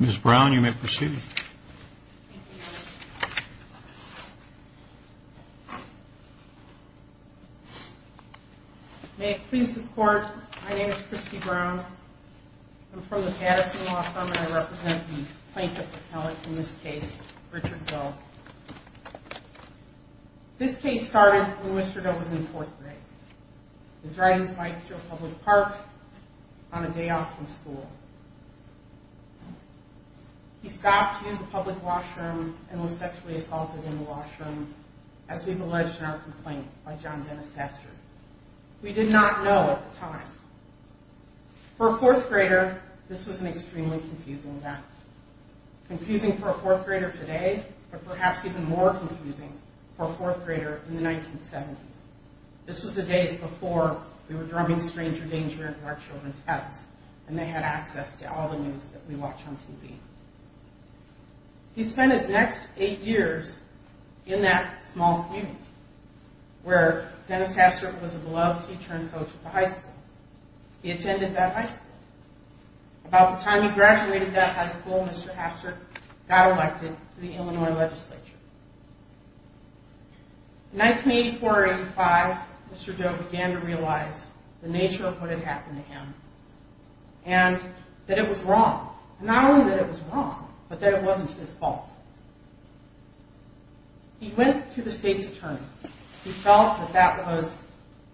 Mr. Brown, you may proceed. May it please the court, my name is Christy Brown. I'm from the Patterson Law Firm and I represent the plaintiff appellate in this case, Richard Doe. This case started when Mr. Doe was in fourth grade. He was riding his bike through a public park on a day off from school. He stopped to use the public washroom and was sexually assaulted in the washroom, as we've alleged in our complaint by John Dennis Hastert. We did not know at the time. For a fourth grader, this was an extremely confusing event. Confusing for a fourth grader today, but perhaps even more confusing for a fourth grader in the 1970s. This was the days before we were drumming Stranger Danger into our children's heads and they had access to all the news that we watch on TV. He spent his next eight years in that small community where Dennis Hastert was a beloved teacher and coach at the high school. He attended that high school. About the time he graduated that high school, Mr. Hastert got elected to the Illinois legislature. In 1984 or 85, Mr. Doe began to realize the nature of what had happened to him and that it was wrong. Not only that it was wrong, but that it wasn't his fault. He went to the state's attorney. He felt that that was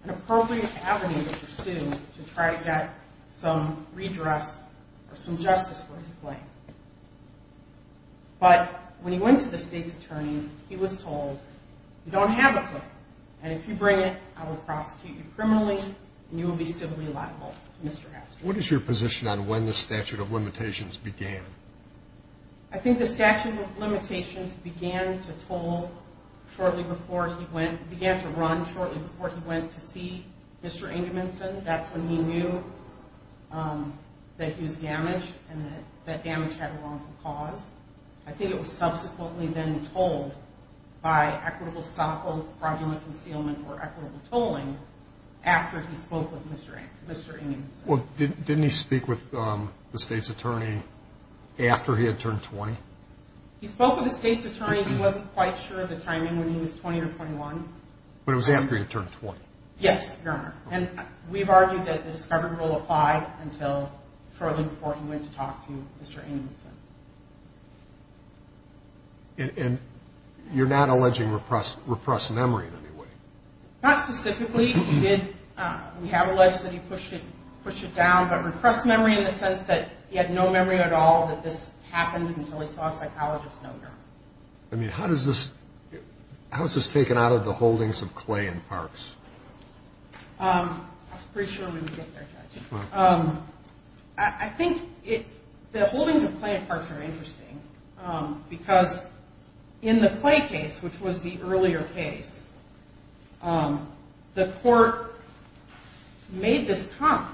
an appropriate avenue to pursue to try to get some redress or some justice for his claim. But when he went to the state's attorney, he was told, you don't have a claim and if you bring it, I will prosecute you criminally and you will be civilly liable to Mr. Hastert. What is your position on when the statute of limitations began? I think the statute of limitations began to toll shortly before he went, began to run shortly before he went to see Mr. Ingeminson. That's when he knew that he was damaged and that damage had a wrongful cause. I think it was subsequently then told by equitable stockholding, fraudulent concealment or equitable tolling after he spoke with Mr. Ingeminson. Well, didn't he speak with the state's attorney after he had turned 20? He spoke with the state's attorney. He wasn't quite sure of the timing when he was 20 or 21. But it was after he had turned 20? Yes, Your Honor. And we've argued that the discovery rule applied until shortly before he went to talk to Mr. Ingeminson. And you're not alleging repressed memory in any way? Not specifically. We did, we have alleged that he pushed it down, but repressed memory in the sense that he had no memory at all that this happened until he saw a psychologist no more. I mean, how does this, how is this taken out of the holdings of Clay and Parks? I was pretty sure we would get there, Judge. I think the holdings of Clay and Parks are interesting because in the Clay case, which was the earlier case, the court made this comment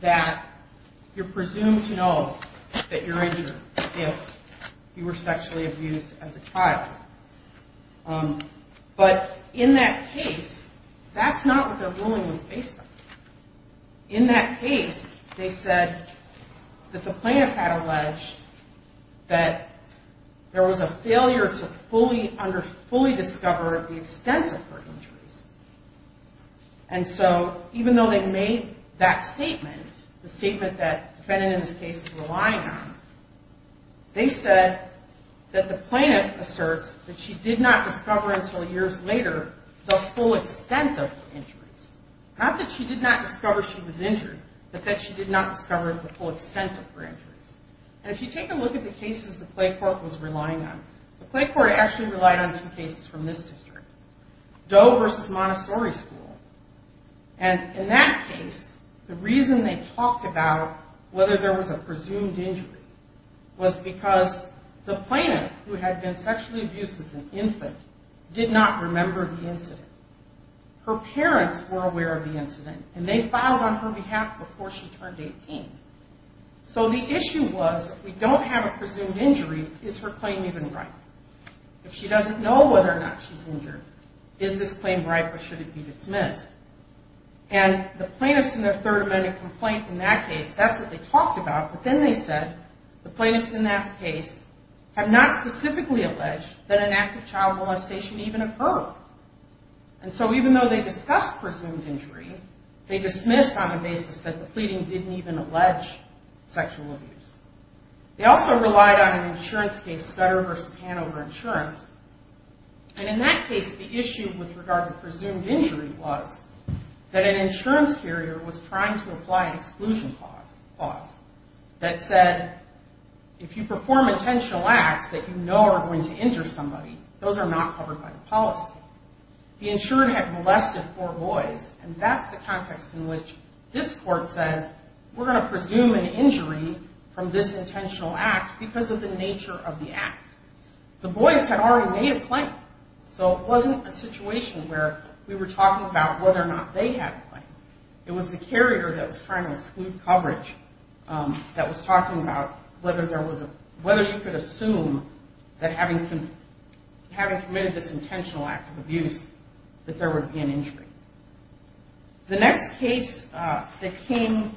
that you're presumed to know that you're injured if you were sexually abused as a child. But in that case, that's not what their ruling was based on. In that case, they said that the plaintiff had alleged that there was a failure to fully discover the extent of her injuries. And so even though they made that statement, the statement that defendant in this case is relying on, they said that the plaintiff asserts that she did not discover until years later the full extent of her injuries. Not that she did not discover she was injured, but that she did not discover the full extent of her injuries. And if you take a look at the cases the Clay court was relying on, the Clay court actually relied on two cases from this district, Doe versus Montessori School. And in that case, the reason they talked about whether there was a presumed injury was because the plaintiff, who had been sexually abused as an infant, did not remember the incident. Her parents were aware of the incident, and they filed on her behalf before she turned 18. So the issue was, if we don't have a presumed injury, is her claim even right? If she doesn't know whether or not she's injured, is this claim right or should it be dismissed? And the plaintiffs in the third amendment complaint in that case, that's what they talked about, but then they said the plaintiffs in that case have not specifically alleged that an active child molestation even occurred. And so even though they discussed presumed injury, they dismissed on the basis that the pleading didn't even allege sexual abuse. They also relied on an insurance case, Scudder versus Hanover Insurance. And in that case, the issue with regard to presumed injury was that an insurance carrier was trying to apply an exclusion clause that said, if you perform intentional acts that you know are going to injure somebody, those are not covered by the policy. The insurer had molested four boys, and that's the context in which this court said, we're going to presume an injury from this intentional act because of the nature of the act. The boys had already made a claim, so it wasn't a situation where we were talking about whether or not they had a claim. It was the carrier that was trying to exclude coverage that was talking about whether you could assume that having committed this intentional act of abuse that there would be an injury. The next case that came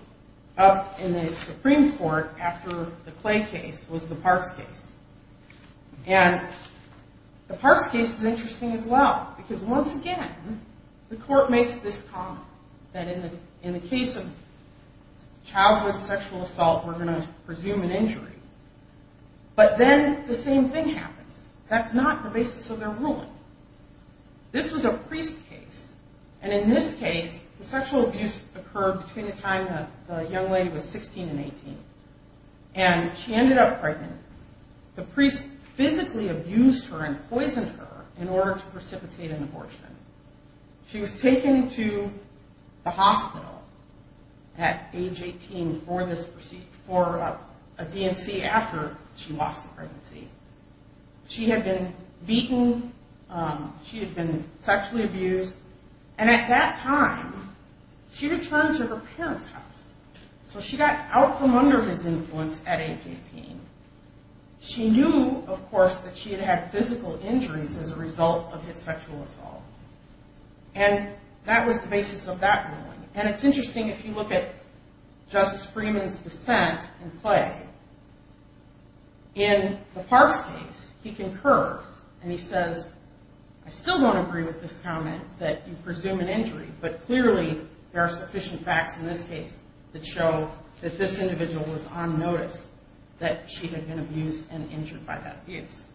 up in the Supreme Court after the Clay case was the Parks case. And the Parks case is interesting as well, because once again, the court makes this comment, that in the case of childhood sexual assault, we're going to presume an injury. But then the same thing happens. That's not the basis of their ruling. This was a priest case, and in this case, the sexual abuse occurred between the time the young lady was 16 and 18. And she ended up pregnant. The priest physically abused her and poisoned her in order to precipitate an abortion. She was taken to the hospital at age 18 for a DNC after she lost the pregnancy. She had been beaten, she had been sexually abused, and at that time, she returned to her parents' house. So she got out from under his influence at age 18. She knew, of course, that she had had physical injuries as a result of his sexual assault. And that was the basis of that ruling. And it's interesting if you look at Justice Freeman's dissent in Clay. In the Parks case, he concurs, and he says, I still don't agree with this comment that you presume an injury, but clearly there are sufficient facts in this case that show that this individual was on notice that she had been abused and injured by that abuse.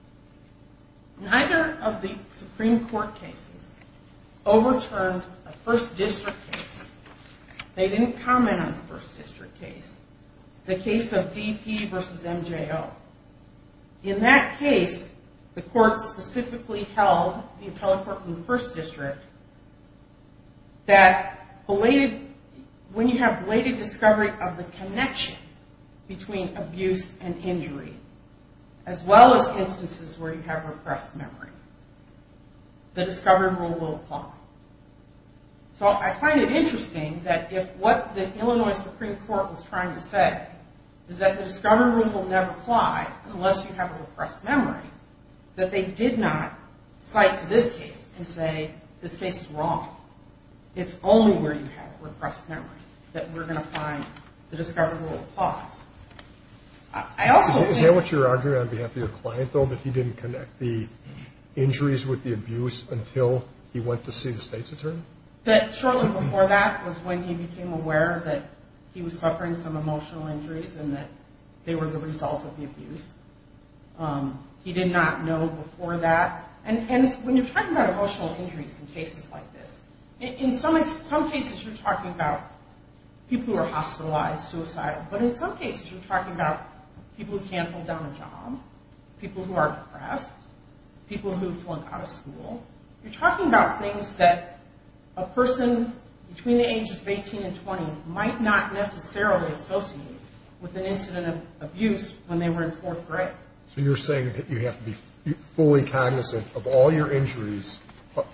Neither of the Supreme Court cases overturned a First District case. They didn't comment on the First District case, the case of DP versus MJO. In that case, the court specifically held, the appellate court in the First District, that when you have belated discovery of the connection between abuse and injury, as well as instances where you have repressed memory, the discovery rule will apply. So I find it interesting that if what the Illinois Supreme Court was trying to say is that the discovery rule will never apply unless you have repressed memory, that they did not cite to this case and say, this case is wrong. It's only where you have repressed memory that we're going to find the discovery rule applies. Is that what you're arguing on behalf of your client, though, that he didn't connect the injuries with the abuse until he went to see the state's attorney? Shortly before that was when he became aware that he was suffering some emotional injuries and that they were the result of the abuse. He did not know before that. And when you're talking about emotional injuries in cases like this, in some cases you're talking about people who are hospitalized, suicidal, but in some cases you're talking about people who can't hold down a job, people who are repressed, people who flunk out of school. You're talking about things that a person between the ages of 18 and 20 might not necessarily associate with an incident of abuse when they were in fourth grade. So you're saying that you have to be fully cognizant of all your injuries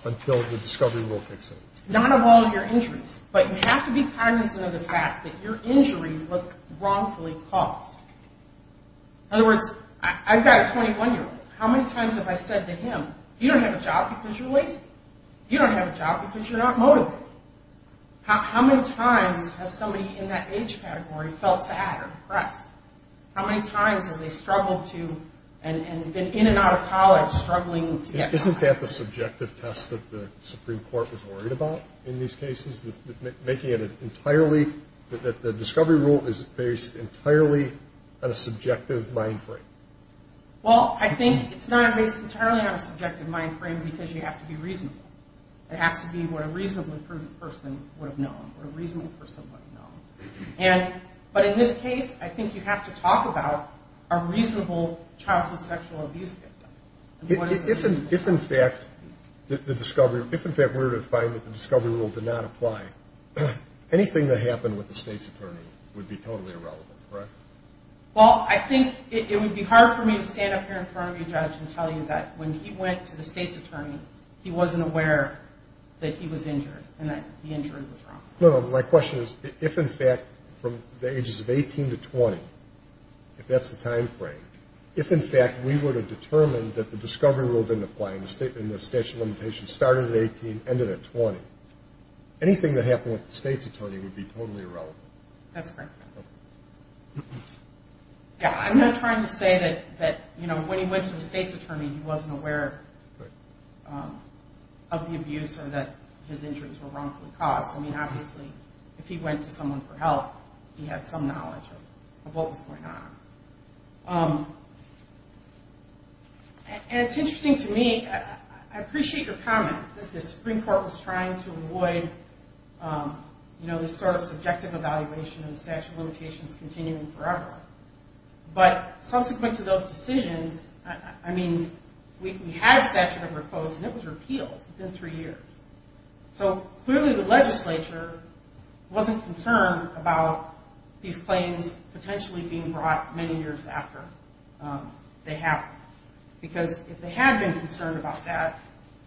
until the discovery rule picks up. Not of all your injuries, but you have to be cognizant of the fact that your injury was wrongfully caused. In other words, I've got a 21-year-old. How many times have I said to him, you don't have a job because you're lazy? You don't have a job because you're not motivated? How many times has somebody in that age category felt sad or depressed? How many times have they struggled to and been in and out of college struggling to get by? Isn't that the subjective test that the Supreme Court was worried about in these cases, making it entirely that the discovery rule is based entirely on a subjective mind frame? Well, I think it's not based entirely on a subjective mind frame because you have to be reasonable. It has to be what a reasonably prudent person would have known or a reasonable person would have known. But in this case, I think you have to talk about a reasonable childhood sexual abuse victim. If, in fact, we were to find that the discovery rule did not apply, anything that happened with the State's attorney would be totally irrelevant, correct? Well, I think it would be hard for me to stand up here in front of you, Judge, and tell you that when he went to the State's attorney, he wasn't aware that he was injured and that the injury was wrong. No, no, my question is if, in fact, from the ages of 18 to 20, if that's the time frame, if, in fact, we were to determine that the discovery rule didn't apply and the statute of limitations started at 18, ended at 20, anything that happened with the State's attorney would be totally irrelevant. That's correct. Yeah, I'm not trying to say that when he went to the State's attorney, he wasn't aware of the abuse or that his injuries were wrongfully caused. I mean, obviously, if he went to someone for help, he had some knowledge of what was going on. And it's interesting to me. I appreciate your comment that the Supreme Court was trying to avoid, you know, this sort of subjective evaluation and the statute of limitations continuing forever. But subsequent to those decisions, I mean, we had a statute that was proposed and it was repealed within three years. So, clearly, the legislature wasn't concerned about these claims potentially being brought many years after they happened. Because if they had been concerned about that,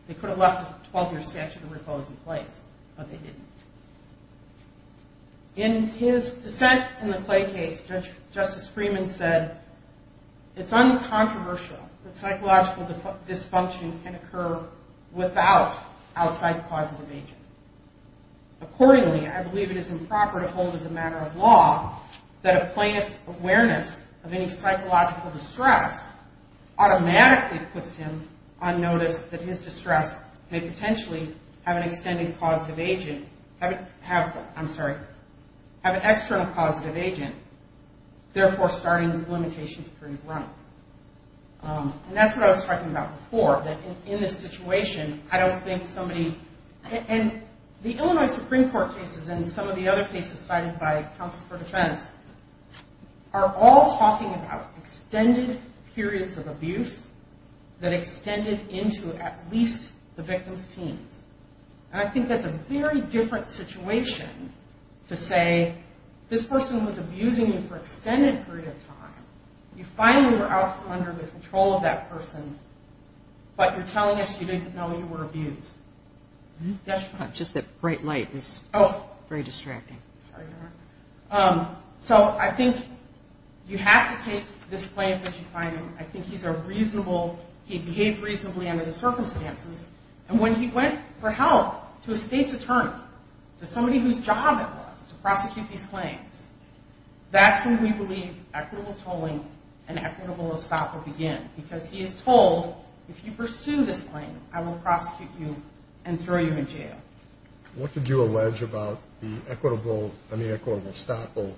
they could have left a 12-year statute of repose in place, but they didn't. In his dissent in the Clay case, Justice Freeman said, it's uncontroversial that psychological dysfunction can occur without outside causative agent. Accordingly, I believe it is improper to hold as a matter of law that a plaintiff's awareness of any psychological distress automatically puts him on notice that his distress may potentially have an external causative agent, therefore starting the limitations period wrong. And that's what I was talking about before, that in this situation, I don't think somebody... And the Illinois Supreme Court cases and some of the other cases cited by counsel for defense are all talking about extended periods of abuse that extended into at least the victim's teens. And I think that's a very different situation to say, this person was abusing you for an extended period of time. You finally were out from under the control of that person, but you're telling us you didn't know you were abused. Yes? Just that bright light is very distracting. Sorry. So I think you have to take this plaintiff as you find him. I think he's a reasonable... He behaved reasonably under the circumstances. And when he went for help to a state's attorney, to somebody whose job it was to prosecute these claims, that's when we believe equitable tolling and equitable estoppel begin, because he is told, if you pursue this claim, I will prosecute you and throw you in jail. What did you allege about the equitable and the equitable estoppel,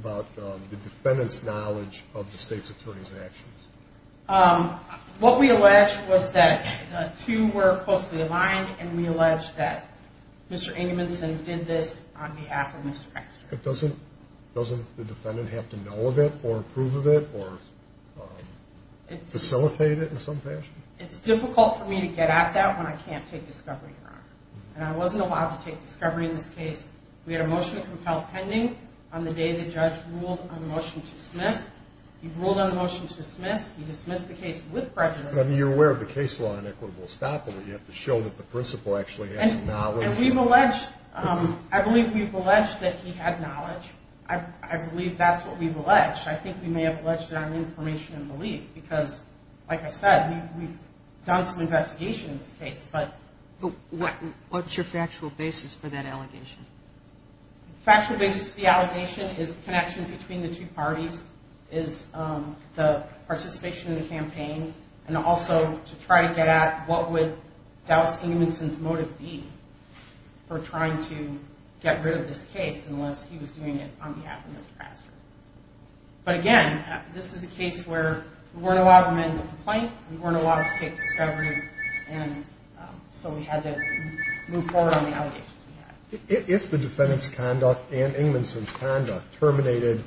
about the defendant's knowledge of the state's attorney's actions? What we allege was that the two were closely aligned, and we allege that Mr. Engelmanson did this on behalf of Mr. Eckstrom. Doesn't the defendant have to know of it or approve of it or facilitate it in some fashion? It's difficult for me to get at that when I can't take discovery, Your Honor. And I wasn't allowed to take discovery in this case. We had a motion to compel pending on the day the judge ruled on a motion to dismiss. He ruled on a motion to dismiss. He dismissed the case with prejudice. But you're aware of the case law in equitable estoppel that you have to show that the principal actually has knowledge. And we've alleged, I believe we've alleged that he had knowledge. I believe that's what we've alleged. I think we may have alleged it on information and belief, because, like I said, we've done some investigation in this case. But what's your factual basis for that allegation? Factual basis for the allegation is the connection between the two parties, is the participation in the campaign, and also to try to get at what would Dallas Ingmanson's motive be for trying to get rid of this case unless he was doing it on behalf of Mr. Pastner. But, again, this is a case where we weren't allowed to amend the complaint, we weren't allowed to take discovery, and so we had to move forward on the allegations we had. If the defendant's conduct and Ingmanson's conduct terminated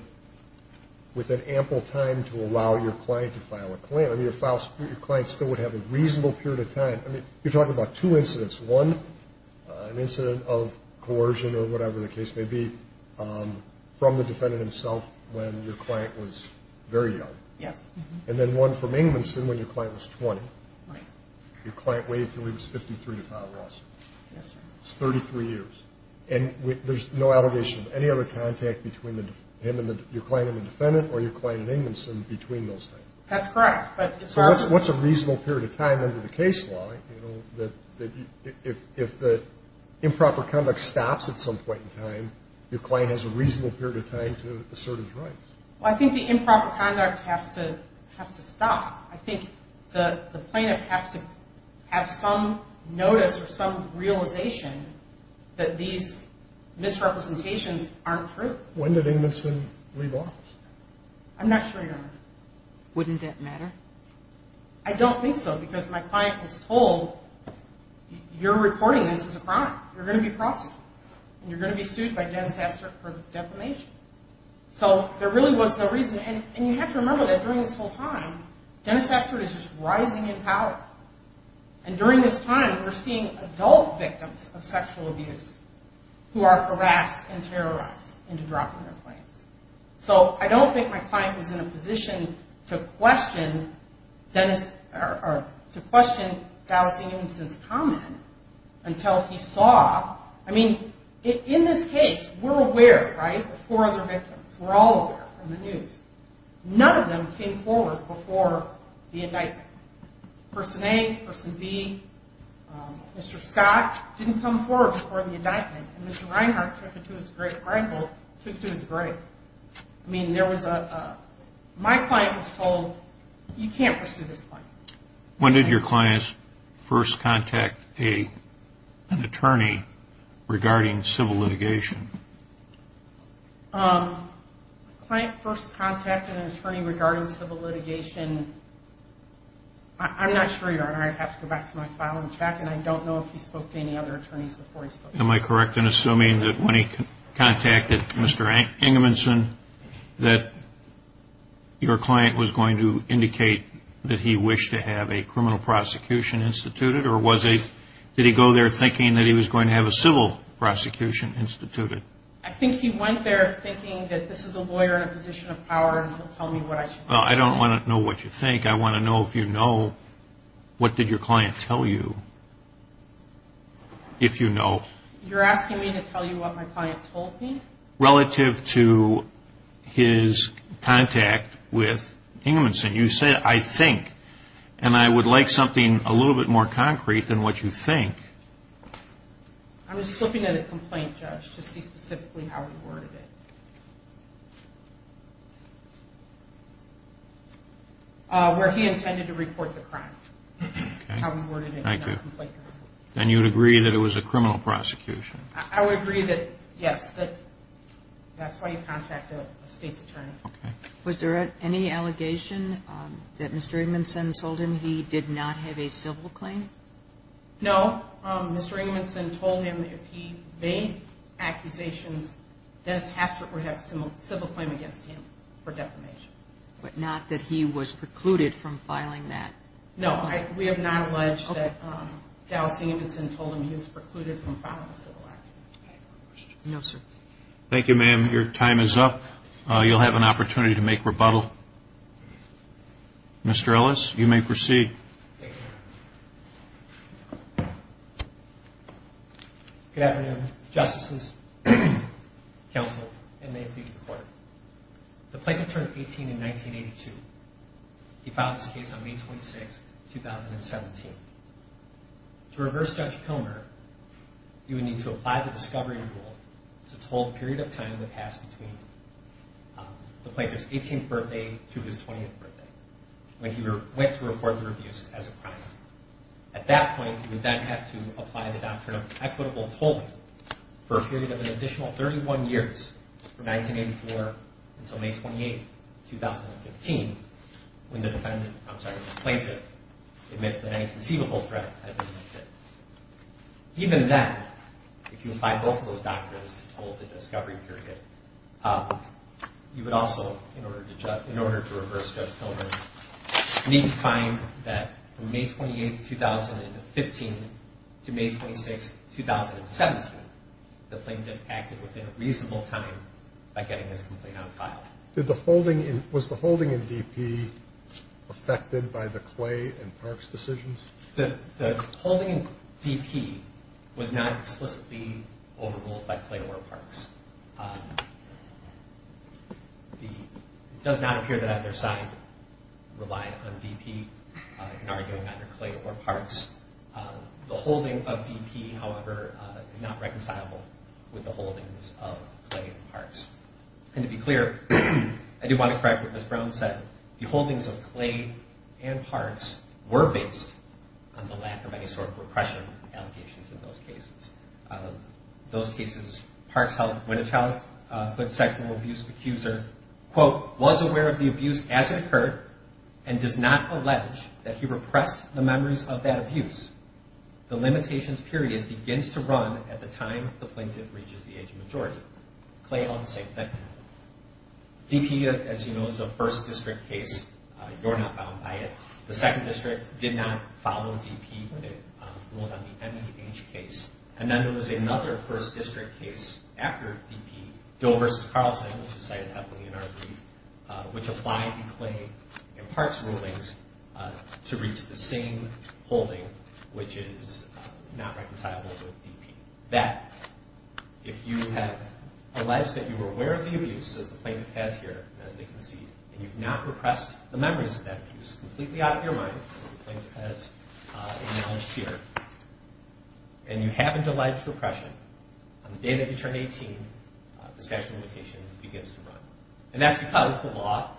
with an ample time to allow your client to file a claim, I mean, your client still would have a reasonable period of time. I mean, you're talking about two incidents. One, an incident of coercion or whatever the case may be, from the defendant himself when your client was very young. Yes. And then one from Ingmanson when your client was 20. Right. Your client waited until he was 53 to file a lawsuit. Yes, sir. That's 33 years. And there's no allegation of any other contact between him and your client and the defendant or your client and Ingmanson between those things. That's correct. So what's a reasonable period of time under the case law, you know, that if the improper conduct stops at some point in time, your client has a reasonable period of time to assert his rights? Well, I think the improper conduct has to stop. I think the plaintiff has to have some notice or some realization that these misrepresentations aren't true. When did Ingmanson leave office? I'm not sure you know. Wouldn't that matter? I don't think so because my client was told, you're reporting this as a crime, you're going to be prosecuted, and you're going to be sued by Dennis Astert for defamation. So there really was no reason. And you have to remember that during this whole time, Dennis Astert is just rising in power. And during this time, we're seeing adult victims of sexual abuse who are harassed and terrorized into dropping their claims. So I don't think my client was in a position to question Dennis or to question Dallas Ingmanson's comment until he saw. I mean, in this case, we're aware, right, of four other victims. We're all aware from the news. None of them came forward before the indictment. Person A, Person B, Mr. Scott didn't come forward before the indictment. And Mr. Reinhart took it to his grave. Reinhold took it to his grave. I mean, there was a – my client was told, you can't pursue this client. When did your client first contact an attorney regarding civil litigation? My client first contacted an attorney regarding civil litigation. I'm not sure, Your Honor. I'd have to go back to my file and check, Am I correct in assuming that when he contacted Mr. Ingmanson that your client was going to indicate that he wished to have a criminal prosecution instituted? Or did he go there thinking that he was going to have a civil prosecution instituted? I think he went there thinking that this is a lawyer in a position of power and he'll tell me what I should do. Well, I don't want to know what you think. I want to know if you know what did your client tell you, if you know. You're asking me to tell you what my client told me? Relative to his contact with Ingmanson. You said, I think. And I would like something a little bit more concrete than what you think. I'm just looking at a complaint, Judge, to see specifically how he worded it. Where he intended to report the crime. That's how he worded it in that complaint. Thank you. And you would agree that it was a criminal prosecution? I would agree that, yes, that's why he contacted a state's attorney. Okay. Was there any allegation that Mr. Ingmanson told him he did not have a civil claim? No. Mr. Ingmanson told him if he made accusations, Dennis Hastert would have a civil claim against him for defamation. But not that he was precluded from filing that? No. We have not alleged that Dallas Ingmanson told him he was precluded from filing a civil action. No, sir. Thank you, ma'am. Your time is up. You'll have an opportunity to make rebuttal. Mr. Ellis, you may proceed. Good afternoon, Justices. Counsel, and may it please the Court. The plaintiff turned 18 in 1982. He filed his case on May 26, 2017. To reverse Judge Comer, you would need to apply the discovery rule to the total period of time that passed between the plaintiff's 18th birthday to his 20th birthday, when he went to report the abuse as a crime. At that point, you would then have to apply the doctrine of equitable tolling for a period of an additional 31 years, from 1984 until May 28, 2015, when the defendant, I'm sorry, the plaintiff admits that any conceivable threat had been lifted. Even then, if you apply both of those doctrines to total the discovery period, you would also, in order to reverse Judge Comer, need to find that from May 28, 2015 to May 26, 2017, the plaintiff acted within a reasonable time by getting his complaint on file. Was the holding in DP affected by the Clay and Parks decisions? The holding in DP was not explicitly overruled by Clay or Parks. It does not appear that either side relied on DP in arguing either Clay or Parks. The holding of DP, however, is not reconcilable with the holdings of Clay and Parks. And to be clear, I do want to correct what Ms. Brown said. The holdings of Clay and Parks were based on the lack of any sort of repression allegations in those cases. Those cases, Parks held, when a childhood sexual abuse accuser, quote, was aware of the abuse as it occurred and does not allege that he repressed the members of that abuse, the limitations period begins to run at the time the plaintiff reaches the age of majority. Clay held the same opinion. DP, as you know, is a first district case. You're not bound by it. The second district did not follow DP when they ruled on the MEH case. And then there was another first district case after DP, Dill v. Carlson, which is cited heavily in our brief, which applied to Clay and Parks rulings to reach the same holding, which is not reconcilable with DP. That, if you have alleged that you were aware of the abuse that the plaintiff has here, as they concede, and you've not repressed the members of that abuse completely out of your mind, as the plaintiff has acknowledged here, and you haven't alleged repression, on the day that you turn 18, the statute of limitations begins to run. And that's because the law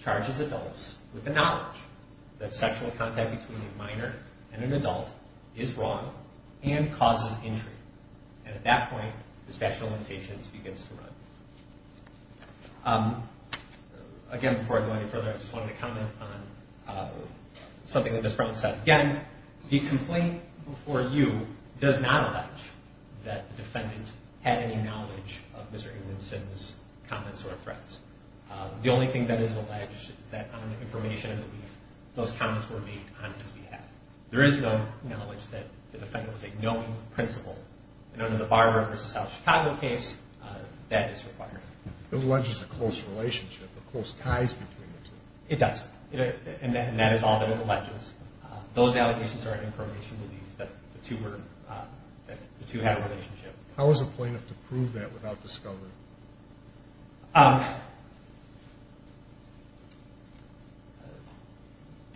charges adults with the knowledge that sexual contact between a minor and an adult is wrong and causes injury. And at that point, the statute of limitations begins to run. Again, before I go any further, I just wanted to comment on something that Ms. Brown said. Again, the complaint before you does not allege that the defendant had any knowledge of Mr. Ewingson's comments or threats. The only thing that is alleged is that on information in the brief, those comments were made on his behalf. There is no knowledge that the defendant was a knowing principal. In the Barber v. South Chicago case, that is required. It alleges a close relationship, a close ties between the two. It does, and that is all that it alleges. Those allegations are an information relief that the two have a relationship. How is a plaintiff to prove that without discovery? The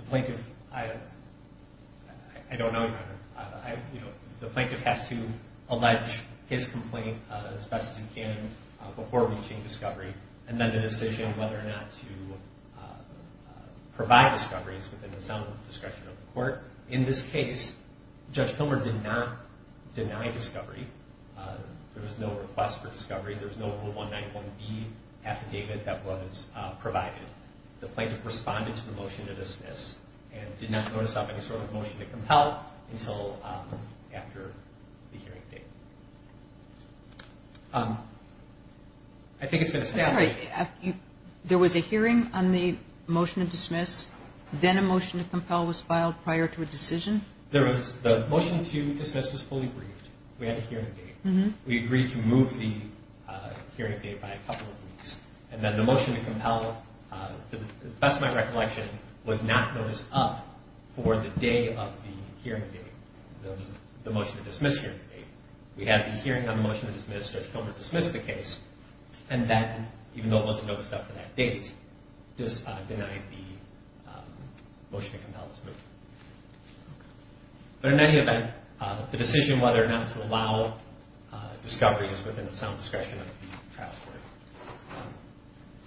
plaintiff, I don't know. The plaintiff has to allege his complaint as best as he can before reaching discovery and then the decision whether or not to provide discoveries within the sound discretion of the court. In this case, Judge Pilmer did not deny discovery. There was no request for discovery. There was no Rule 191B affidavit that was provided. The plaintiff responded to the motion to dismiss and did not notice of any sort of motion to compel until after the hearing date. I think it's been established. I'm sorry. There was a hearing on the motion to dismiss, then a motion to compel was filed prior to a decision? There was. The motion to dismiss was fully briefed. We had a hearing date. We agreed to move the hearing date by a couple of weeks, and then the motion to compel, to the best of my recollection, was not noticed up for the day of the hearing date, the motion to dismiss hearing date. We had the hearing on the motion to dismiss, Judge Pilmer dismissed the case, and then, even though it wasn't noticed up for that date, denied the motion to compel this motion. But in any event, the decision whether or not to allow discoveries within the sound discretion of the trial court.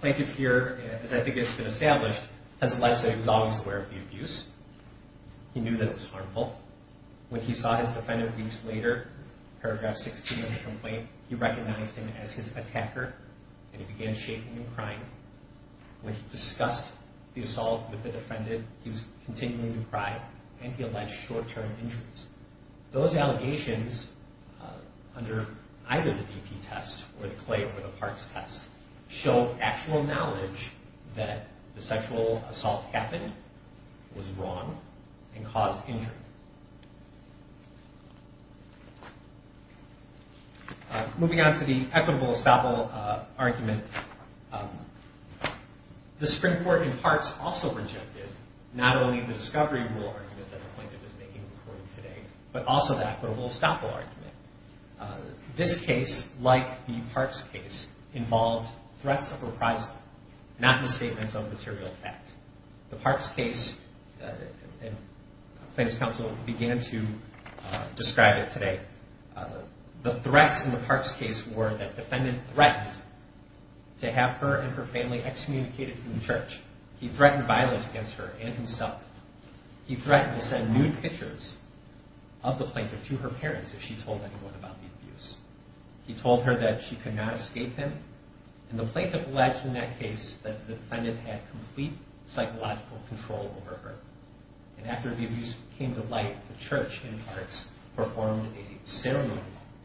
Plaintiff here, as I think it's been established, has alleged that he was always aware of the abuse. He knew that it was harmful. When he saw his defendant weeks later, paragraph 16 of the complaint, he recognized him as his attacker, and he began shaking and crying. When he discussed the assault with the defendant, he was continuing to cry, and he alleged short-term injuries. Those allegations, under either the DP test or the Clay or the Parks test, show actual knowledge that the sexual assault happened, was wrong, and caused injury. Moving on to the equitable estoppel argument, the Supreme Court in Parks also rejected not only the discovery rule argument that the plaintiff is making in court today, but also the equitable estoppel argument. This case, like the Parks case, involved threats of reprisal, not misstatements of material fact. The Parks case, and Plaintiff's counsel began to describe it today, the threats in the Parks case were that defendant threatened to have her and her family excommunicated from the church. He threatened violence against her and himself. He threatened to send nude pictures of the plaintiff to her parents if she told anyone about the abuse. He told her that she could not escape him, and the plaintiff alleged in that case that the defendant had complete psychological control over her. And after the abuse came to light, the church in Parks performed a ceremony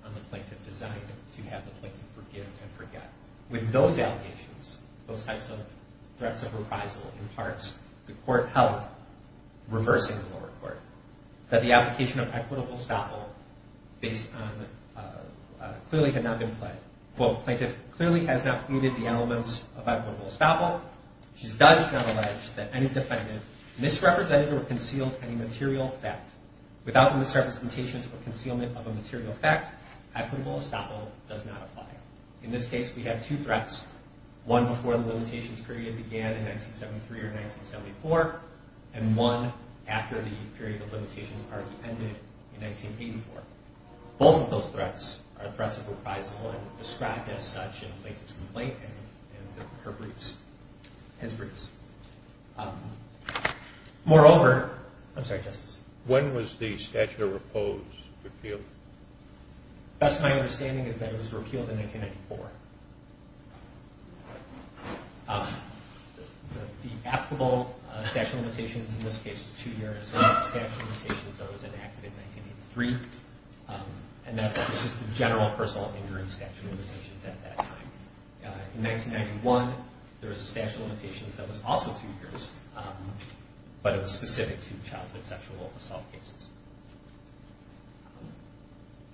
on the plaintiff designed to have the plaintiff forgive and forget. With those allegations, those types of threats of reprisal in Parks, the court held, reversing the lower court, that the application of equitable estoppel clearly had not been pledged. Quote, Plaintiff clearly has not pleaded the elements of equitable estoppel. She does not allege that any defendant misrepresented or concealed any material fact. Without misrepresentations or concealment of a material fact, equitable estoppel does not apply. In this case, we have two threats. One before the limitations period began in 1973 or 1974, and one after the period of limitations partly ended in 1984. Both of those threats are threats of reprisal and described as such in the plaintiff's complaint and her briefs, his briefs. Moreover, I'm sorry, Justice. When was the statute of repose repealed? Best of my understanding is that it was repealed in 1994. The applicable statute of limitations in this case is two years, and the statute of limitations that was enacted in 1983, and that was just the general personal injury statute of limitations at that time. In 1991, there was a statute of limitations that was also two years, but it was specific to childhood sexual assault cases.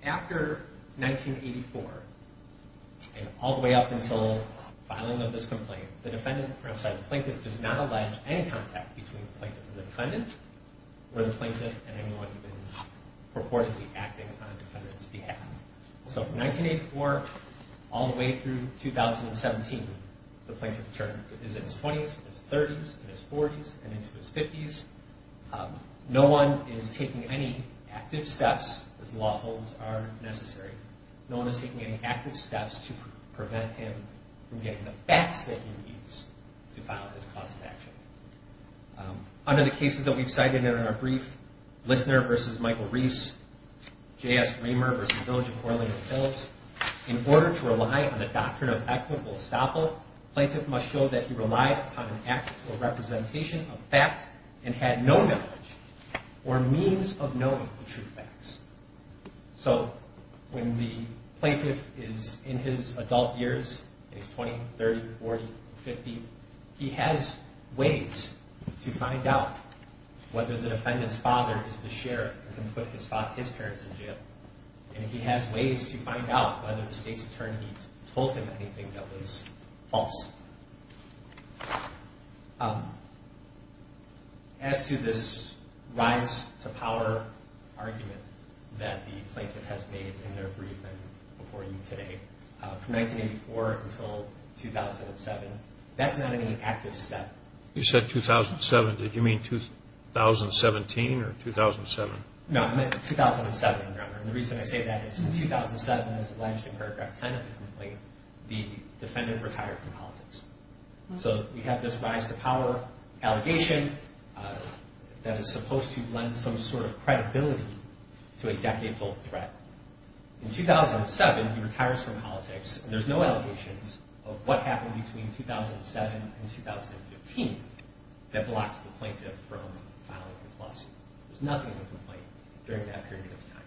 After 1984, and all the way up until filing of this complaint, the defendant, or I'm sorry, the plaintiff does not allege any contact between the plaintiff and the defendant, or the plaintiff and anyone who has been purportedly acting on the defendant's behalf. So from 1984 all the way through 2017, the plaintiff is in his 20s, in his 30s, in his 40s, and into his 50s. No one is taking any active steps, as the law holds are necessary, no one is taking any active steps to prevent him from getting the facts that he needs to file his cause of action. Under the cases that we've cited in our brief, Lissner v. Michael Reese, J.S. Raymer v. Village of Orlando Phillips, in order to rely on the doctrine of equitable estoppel, the plaintiff must show that he relied on an act or representation of facts and had no knowledge or means of knowing the true facts. So when the plaintiff is in his adult years, in his 20s, 30s, 40s, 50s, he has ways to find out whether the defendant's father is the sheriff who put his parents in jail. And he has ways to find out whether the state's attorney told him anything that was false. As to this rise to power argument that the plaintiff has made in their briefing before you today, from 1984 until 2007, that's not any active step. You said 2007, did you mean 2017 or 2007? No, I meant 2007, and the reason I say that is in 2007, as alleged in paragraph 10 of the complaint, the defendant retired from politics. So we have this rise to power allegation that is supposed to lend some sort of credibility to a decades-old threat. In 2007, he retires from politics, and there's no allegations of what happened between 2007 and 2015 that blocked the plaintiff from filing his lawsuit. There's nothing in the complaint during that period of time.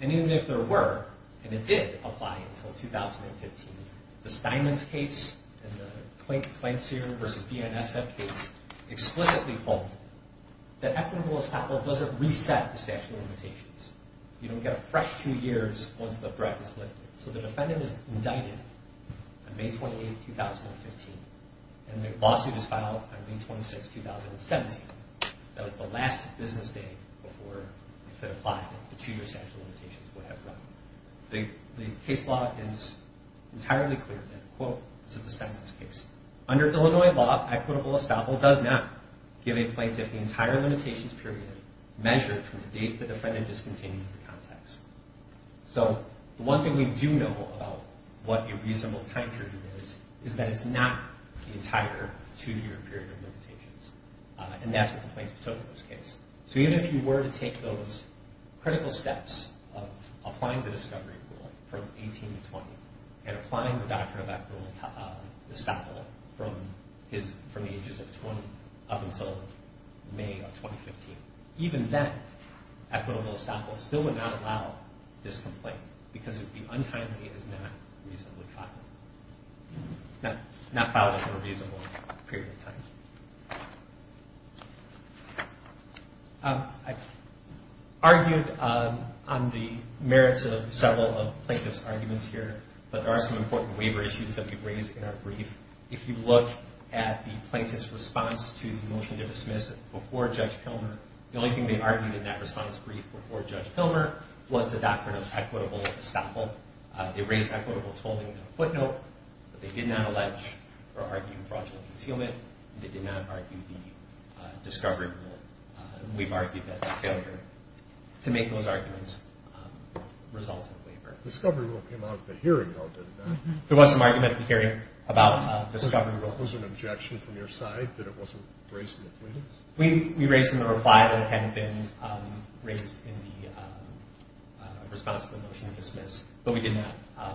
And even if there were, and it did apply until 2015, the Steinman's case and the Kleinseer v. BNSF case explicitly hold that equitable establishment doesn't reset the statute of limitations. You don't get a fresh two years once the threat is lifted. So the defendant is indicted on May 28, 2015, and the lawsuit is filed on May 26, 2017. That was the last business day before, if it applied, the two-year statute of limitations would have run. The case law is entirely clear that, quote, this is the Steinman's case, under Illinois law, equitable estoppel does not give a plaintiff the entire limitations period measured from the date the defendant discontinues the contacts. So the one thing we do know about what a reasonable time period is is that it's not the entire two-year period of limitations. And that's what the plaintiff took in this case. So even if you were to take those critical steps of applying the discovery rule from 18 to 20, and applying the doctrine of equitable estoppel from the ages of 20 up until May of 2015, even then, equitable estoppel still would not allow this complaint because the untimely is not reasonably filed. Not filed for a reasonable period of time. I've argued on the merits of several of the plaintiff's arguments here, but there are some important waiver issues that we've raised in our brief. If you look at the plaintiff's response to the motion to dismiss before Judge Pilmer, the only thing they argued in that response brief before Judge Pilmer was the doctrine of equitable estoppel. They raised equitable tolling in a footnote, but they did not allege or argue fraudulent concealment. They did not argue the discovery rule. We've argued that failure to make those arguments results in a waiver. The discovery rule came out at the hearing, though, didn't it? There was some argument at the hearing about the discovery rule. Was there an objection from your side that it wasn't raised in the plaintiffs? We raised in the reply that had been raised in the response to the motion to dismiss. But we did not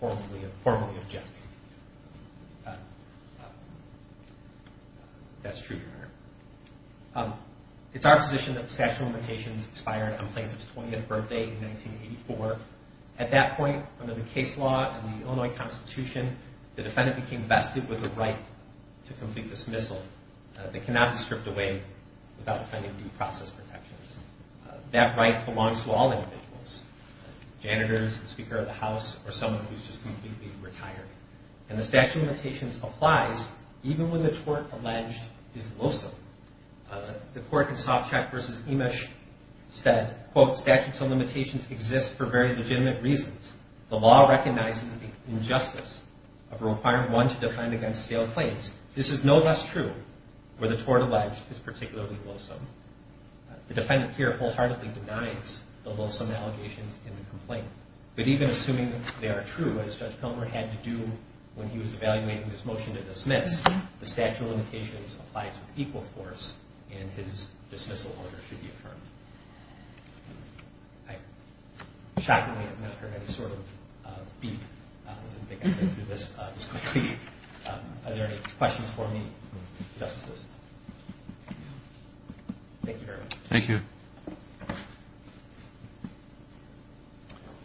formally object. That's true, Your Honor. It's our position that the statute of limitations expired on the plaintiff's 20th birthday in 1984. At that point, under the case law and the Illinois Constitution, the defendant became vested with the right to complete dismissal. They cannot be stripped away without defending due process protections. That right belongs to all individuals, janitors, the Speaker of the House, or someone who's just completely retired. And the statute of limitations applies even when the tort alleged is loathsome. The court in Sovchak v. Emesh said, quote, statutes of limitations exist for very legitimate reasons. The law recognizes the injustice of requiring one to defend against stale claims. This is no less true where the tort alleged is particularly loathsome. The defendant here wholeheartedly denies the loathsome allegations in the complaint. But even assuming they are true, as Judge Pilmer had to do when he was evaluating this motion to dismiss, the statute of limitations applies with equal force, and his dismissal order should be affirmed. I, shockingly, have not heard any sort of beep. I think I'm going to do this quickly. Are there any questions for me, Justices? Thank you very much. Thank you.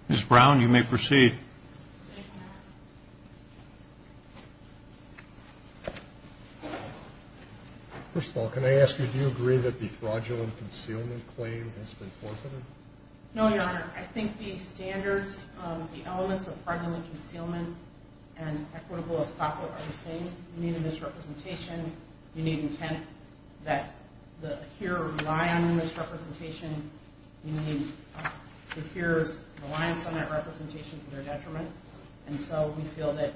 Ms. Brown, you may proceed. First of all, can I ask you, do you agree that the fraudulent concealment claim has been forfeited? No, Your Honor. I think the standards, the elements of fraudulent concealment and equitable estoppel are the same. You need a misrepresentation. You need intent that the hearer rely on their misrepresentation. You need the hearer's reliance on that representation to their detriment. And so we feel that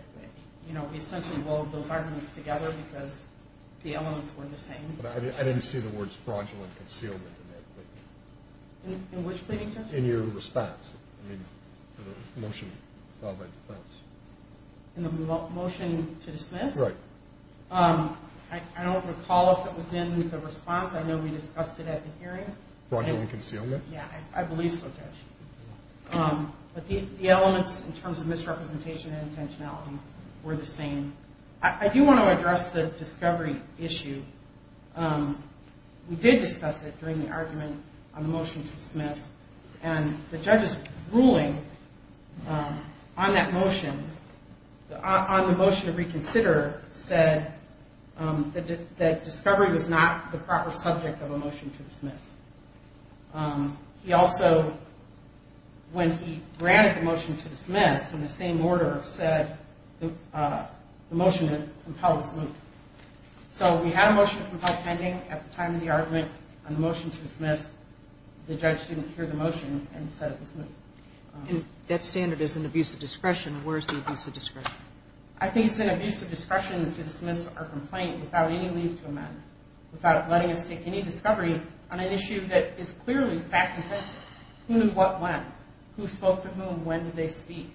we essentially blowed those arguments together because the elements were the same. But I didn't see the words fraudulent concealment in that plea. In which plea, Your Honor? In your response to the motion filed by defense. In the motion to dismiss? Right. I don't recall if it was in the response. I know we discussed it at the hearing. Fraudulent concealment? Yeah, I believe so, Judge. But the elements in terms of misrepresentation and intentionality were the same. I do want to address the discovery issue. We did discuss it during the argument on the motion to dismiss. And the judge's ruling on that motion, on the motion to reconsider, said that discovery was not the proper subject of a motion to dismiss. He also, when he granted the motion to dismiss in the same order, said the motion to compel was moot. So we had a motion to compel pending at the time of the argument on the motion to dismiss. The judge didn't hear the motion and said it was moot. That standard is an abuse of discretion. Where is the abuse of discretion? I think it's an abuse of discretion to dismiss our complaint without any leave to amend, without letting us take any discovery on an issue that is clearly fact-intensive. Who knew what when? Who spoke to whom? When did they speak?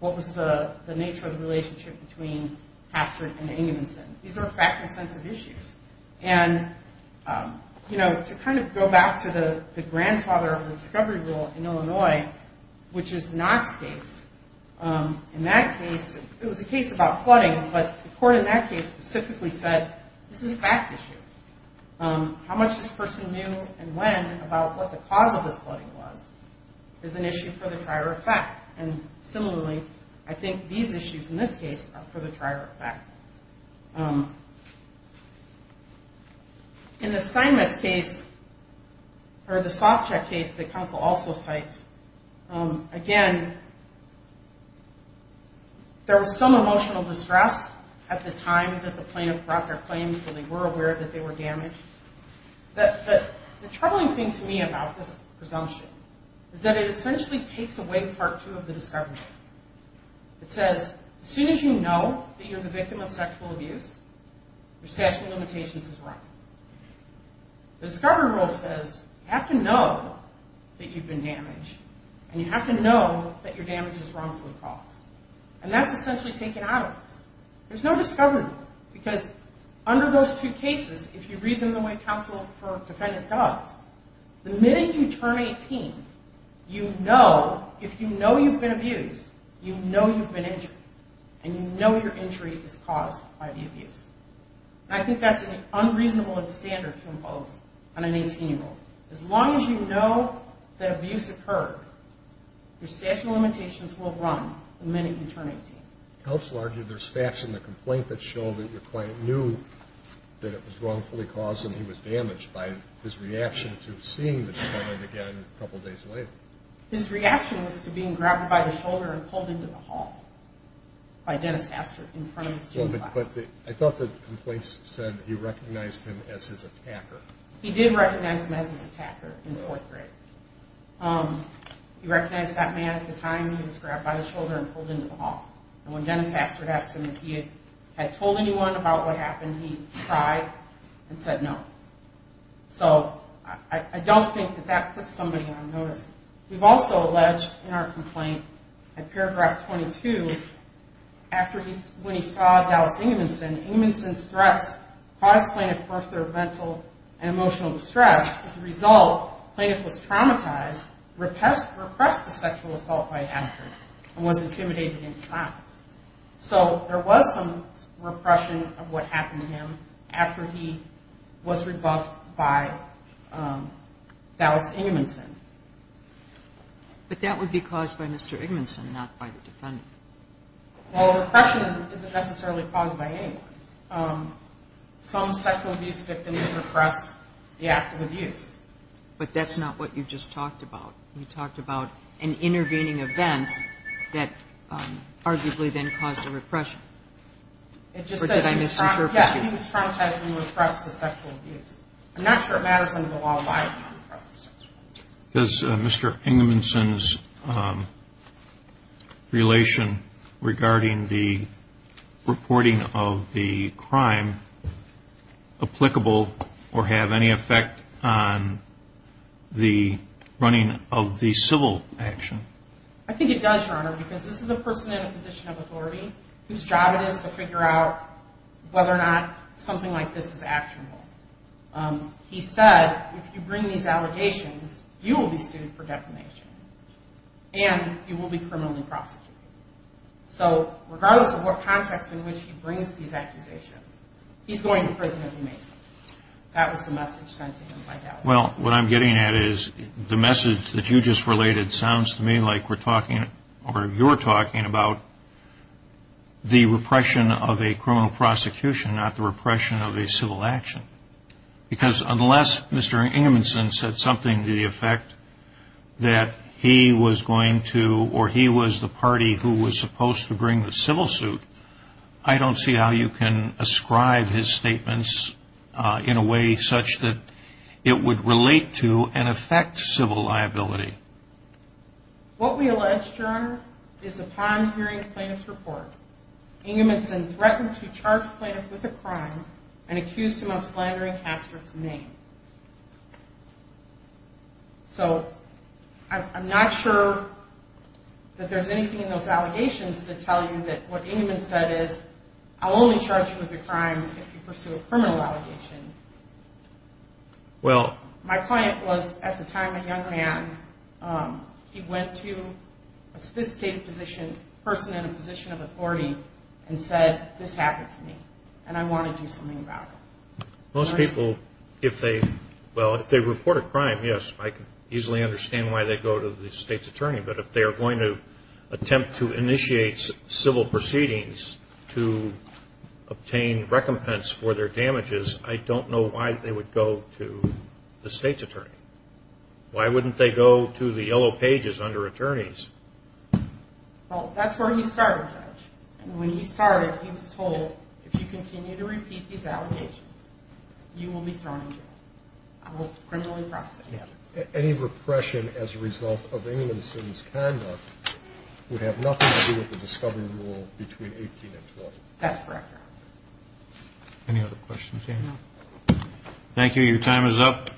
What was the nature of the relationship between Hastert and Amundsen? These are fact-intensive issues. And, you know, to kind of go back to the grandfather of the discovery rule in Illinois, which is Knott's case, in that case it was a case about flooding, but the court in that case specifically said this is a fact issue. How much this person knew and when about what the cause of this flooding was is an issue for the trier of fact. And similarly, I think these issues in this case are for the trier of fact. In the Steinmetz case, or the Sovchak case that counsel also cites, again, there was some emotional distress at the time that the plaintiff brought their claims and they were aware that they were damaged. The troubling thing to me about this presumption is that it essentially takes away part two of the discovery. It says as soon as you know that you're the victim of sexual abuse, your statute of limitations is run. The discovery rule says you have to know that you've been damaged and you have to know that your damage is wrongfully caused. And that's essentially taken out of this. There's no discovery rule because under those two cases, if you read them the way counsel for defendant does, the minute you turn 18, you know, if you know you've been abused, you know you've been injured. And you know your injury is caused by the abuse. And I think that's an unreasonable standard to impose on an 18-year-old. As long as you know that abuse occurred, your statute of limitations will run the minute you turn 18. Counsel argued there's facts in the complaint that show that your client knew that it was wrongfully caused and he was damaged by his reaction to seeing the defendant again a couple days later. His reaction was to being grabbed by the shoulder and pulled into the hall by Dennis Astert in front of his gym class. I thought the complaint said he recognized him as his attacker. He did recognize him as his attacker in fourth grade. He recognized that man at the time. He was grabbed by the shoulder and pulled into the hall. And when Dennis Astert asked him if he had told anyone about what happened, he cried and said no. So I don't think that that puts somebody on notice. We've also alleged in our complaint in paragraph 22, when he saw Dallas Ingmanson, Ingmanson's threats caused plaintiff further mental and emotional distress. As a result, plaintiff was traumatized, repressed the sexual assault by a doctor, and was intimidated in silence. So there was some repression of what happened to him after he was rebuffed by Dallas Ingmanson. But that would be caused by Mr. Ingmanson, not by the defendant. Well, repression isn't necessarily caused by anyone. Some sexual abuse victims repress the act of abuse. But that's not what you just talked about. You talked about an intervening event that arguably then caused a repression. Or did I misinterpret you? Yeah, he was traumatized and repressed the sexual abuse. I'm not sure it matters under the law why he repressed the sexual abuse. Does Mr. Ingmanson's relation regarding the reporting of the crime applicable or have any effect on the running of the civil action? I think it does, Your Honor, because this is a person in a position of authority whose job it is to figure out whether or not something like this is actionable. He said, if you bring these allegations, you will be sued for defamation, and you will be criminally prosecuted. So regardless of what context in which he brings these accusations, he's going to prison if he makes them. That was the message sent to him by that person. Well, what I'm getting at is the message that you just related sounds to me like you're talking about the repression of a criminal prosecution, not the repression of a civil action. Because unless Mr. Ingmanson said something to the effect that he was going to or he was the party who was supposed to bring the civil suit, I don't see how you can ascribe his statements in a way such that it would relate to and affect civil liability. What we allege, Your Honor, is upon hearing the plaintiff's report, Ingmanson threatened to charge the plaintiff with a crime and accused him of slandering Hastert's name. So I'm not sure that there's anything in those allegations that tell you that what Ingman said is, I'll only charge you with a crime if you pursue a criminal allegation. My client was, at the time, a young man. He went to a sophisticated person in a position of authority and said, This happened to me, and I want to do something about it. Most people, if they report a crime, yes, I can easily understand why they go to the state's attorney. But if they are going to attempt to initiate civil proceedings to obtain recompense for their damages, I don't know why they would go to the state's attorney. Why wouldn't they go to the yellow pages under attorneys? Well, that's where he started, Judge. When he started, he was told, If you continue to repeat these allegations, you will be thrown in jail. I will criminally prosecute you. Any repression as a result of Ingman's conduct would have nothing to do with the discovery rule between 18 and 20. That's correct, Your Honor. Any other questions? No. Thank you. Your time is up.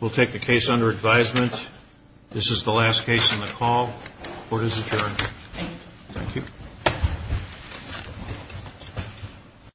We'll take the case under advisement. This is the last case on the call. Court is adjourned. Thank you. Thank you.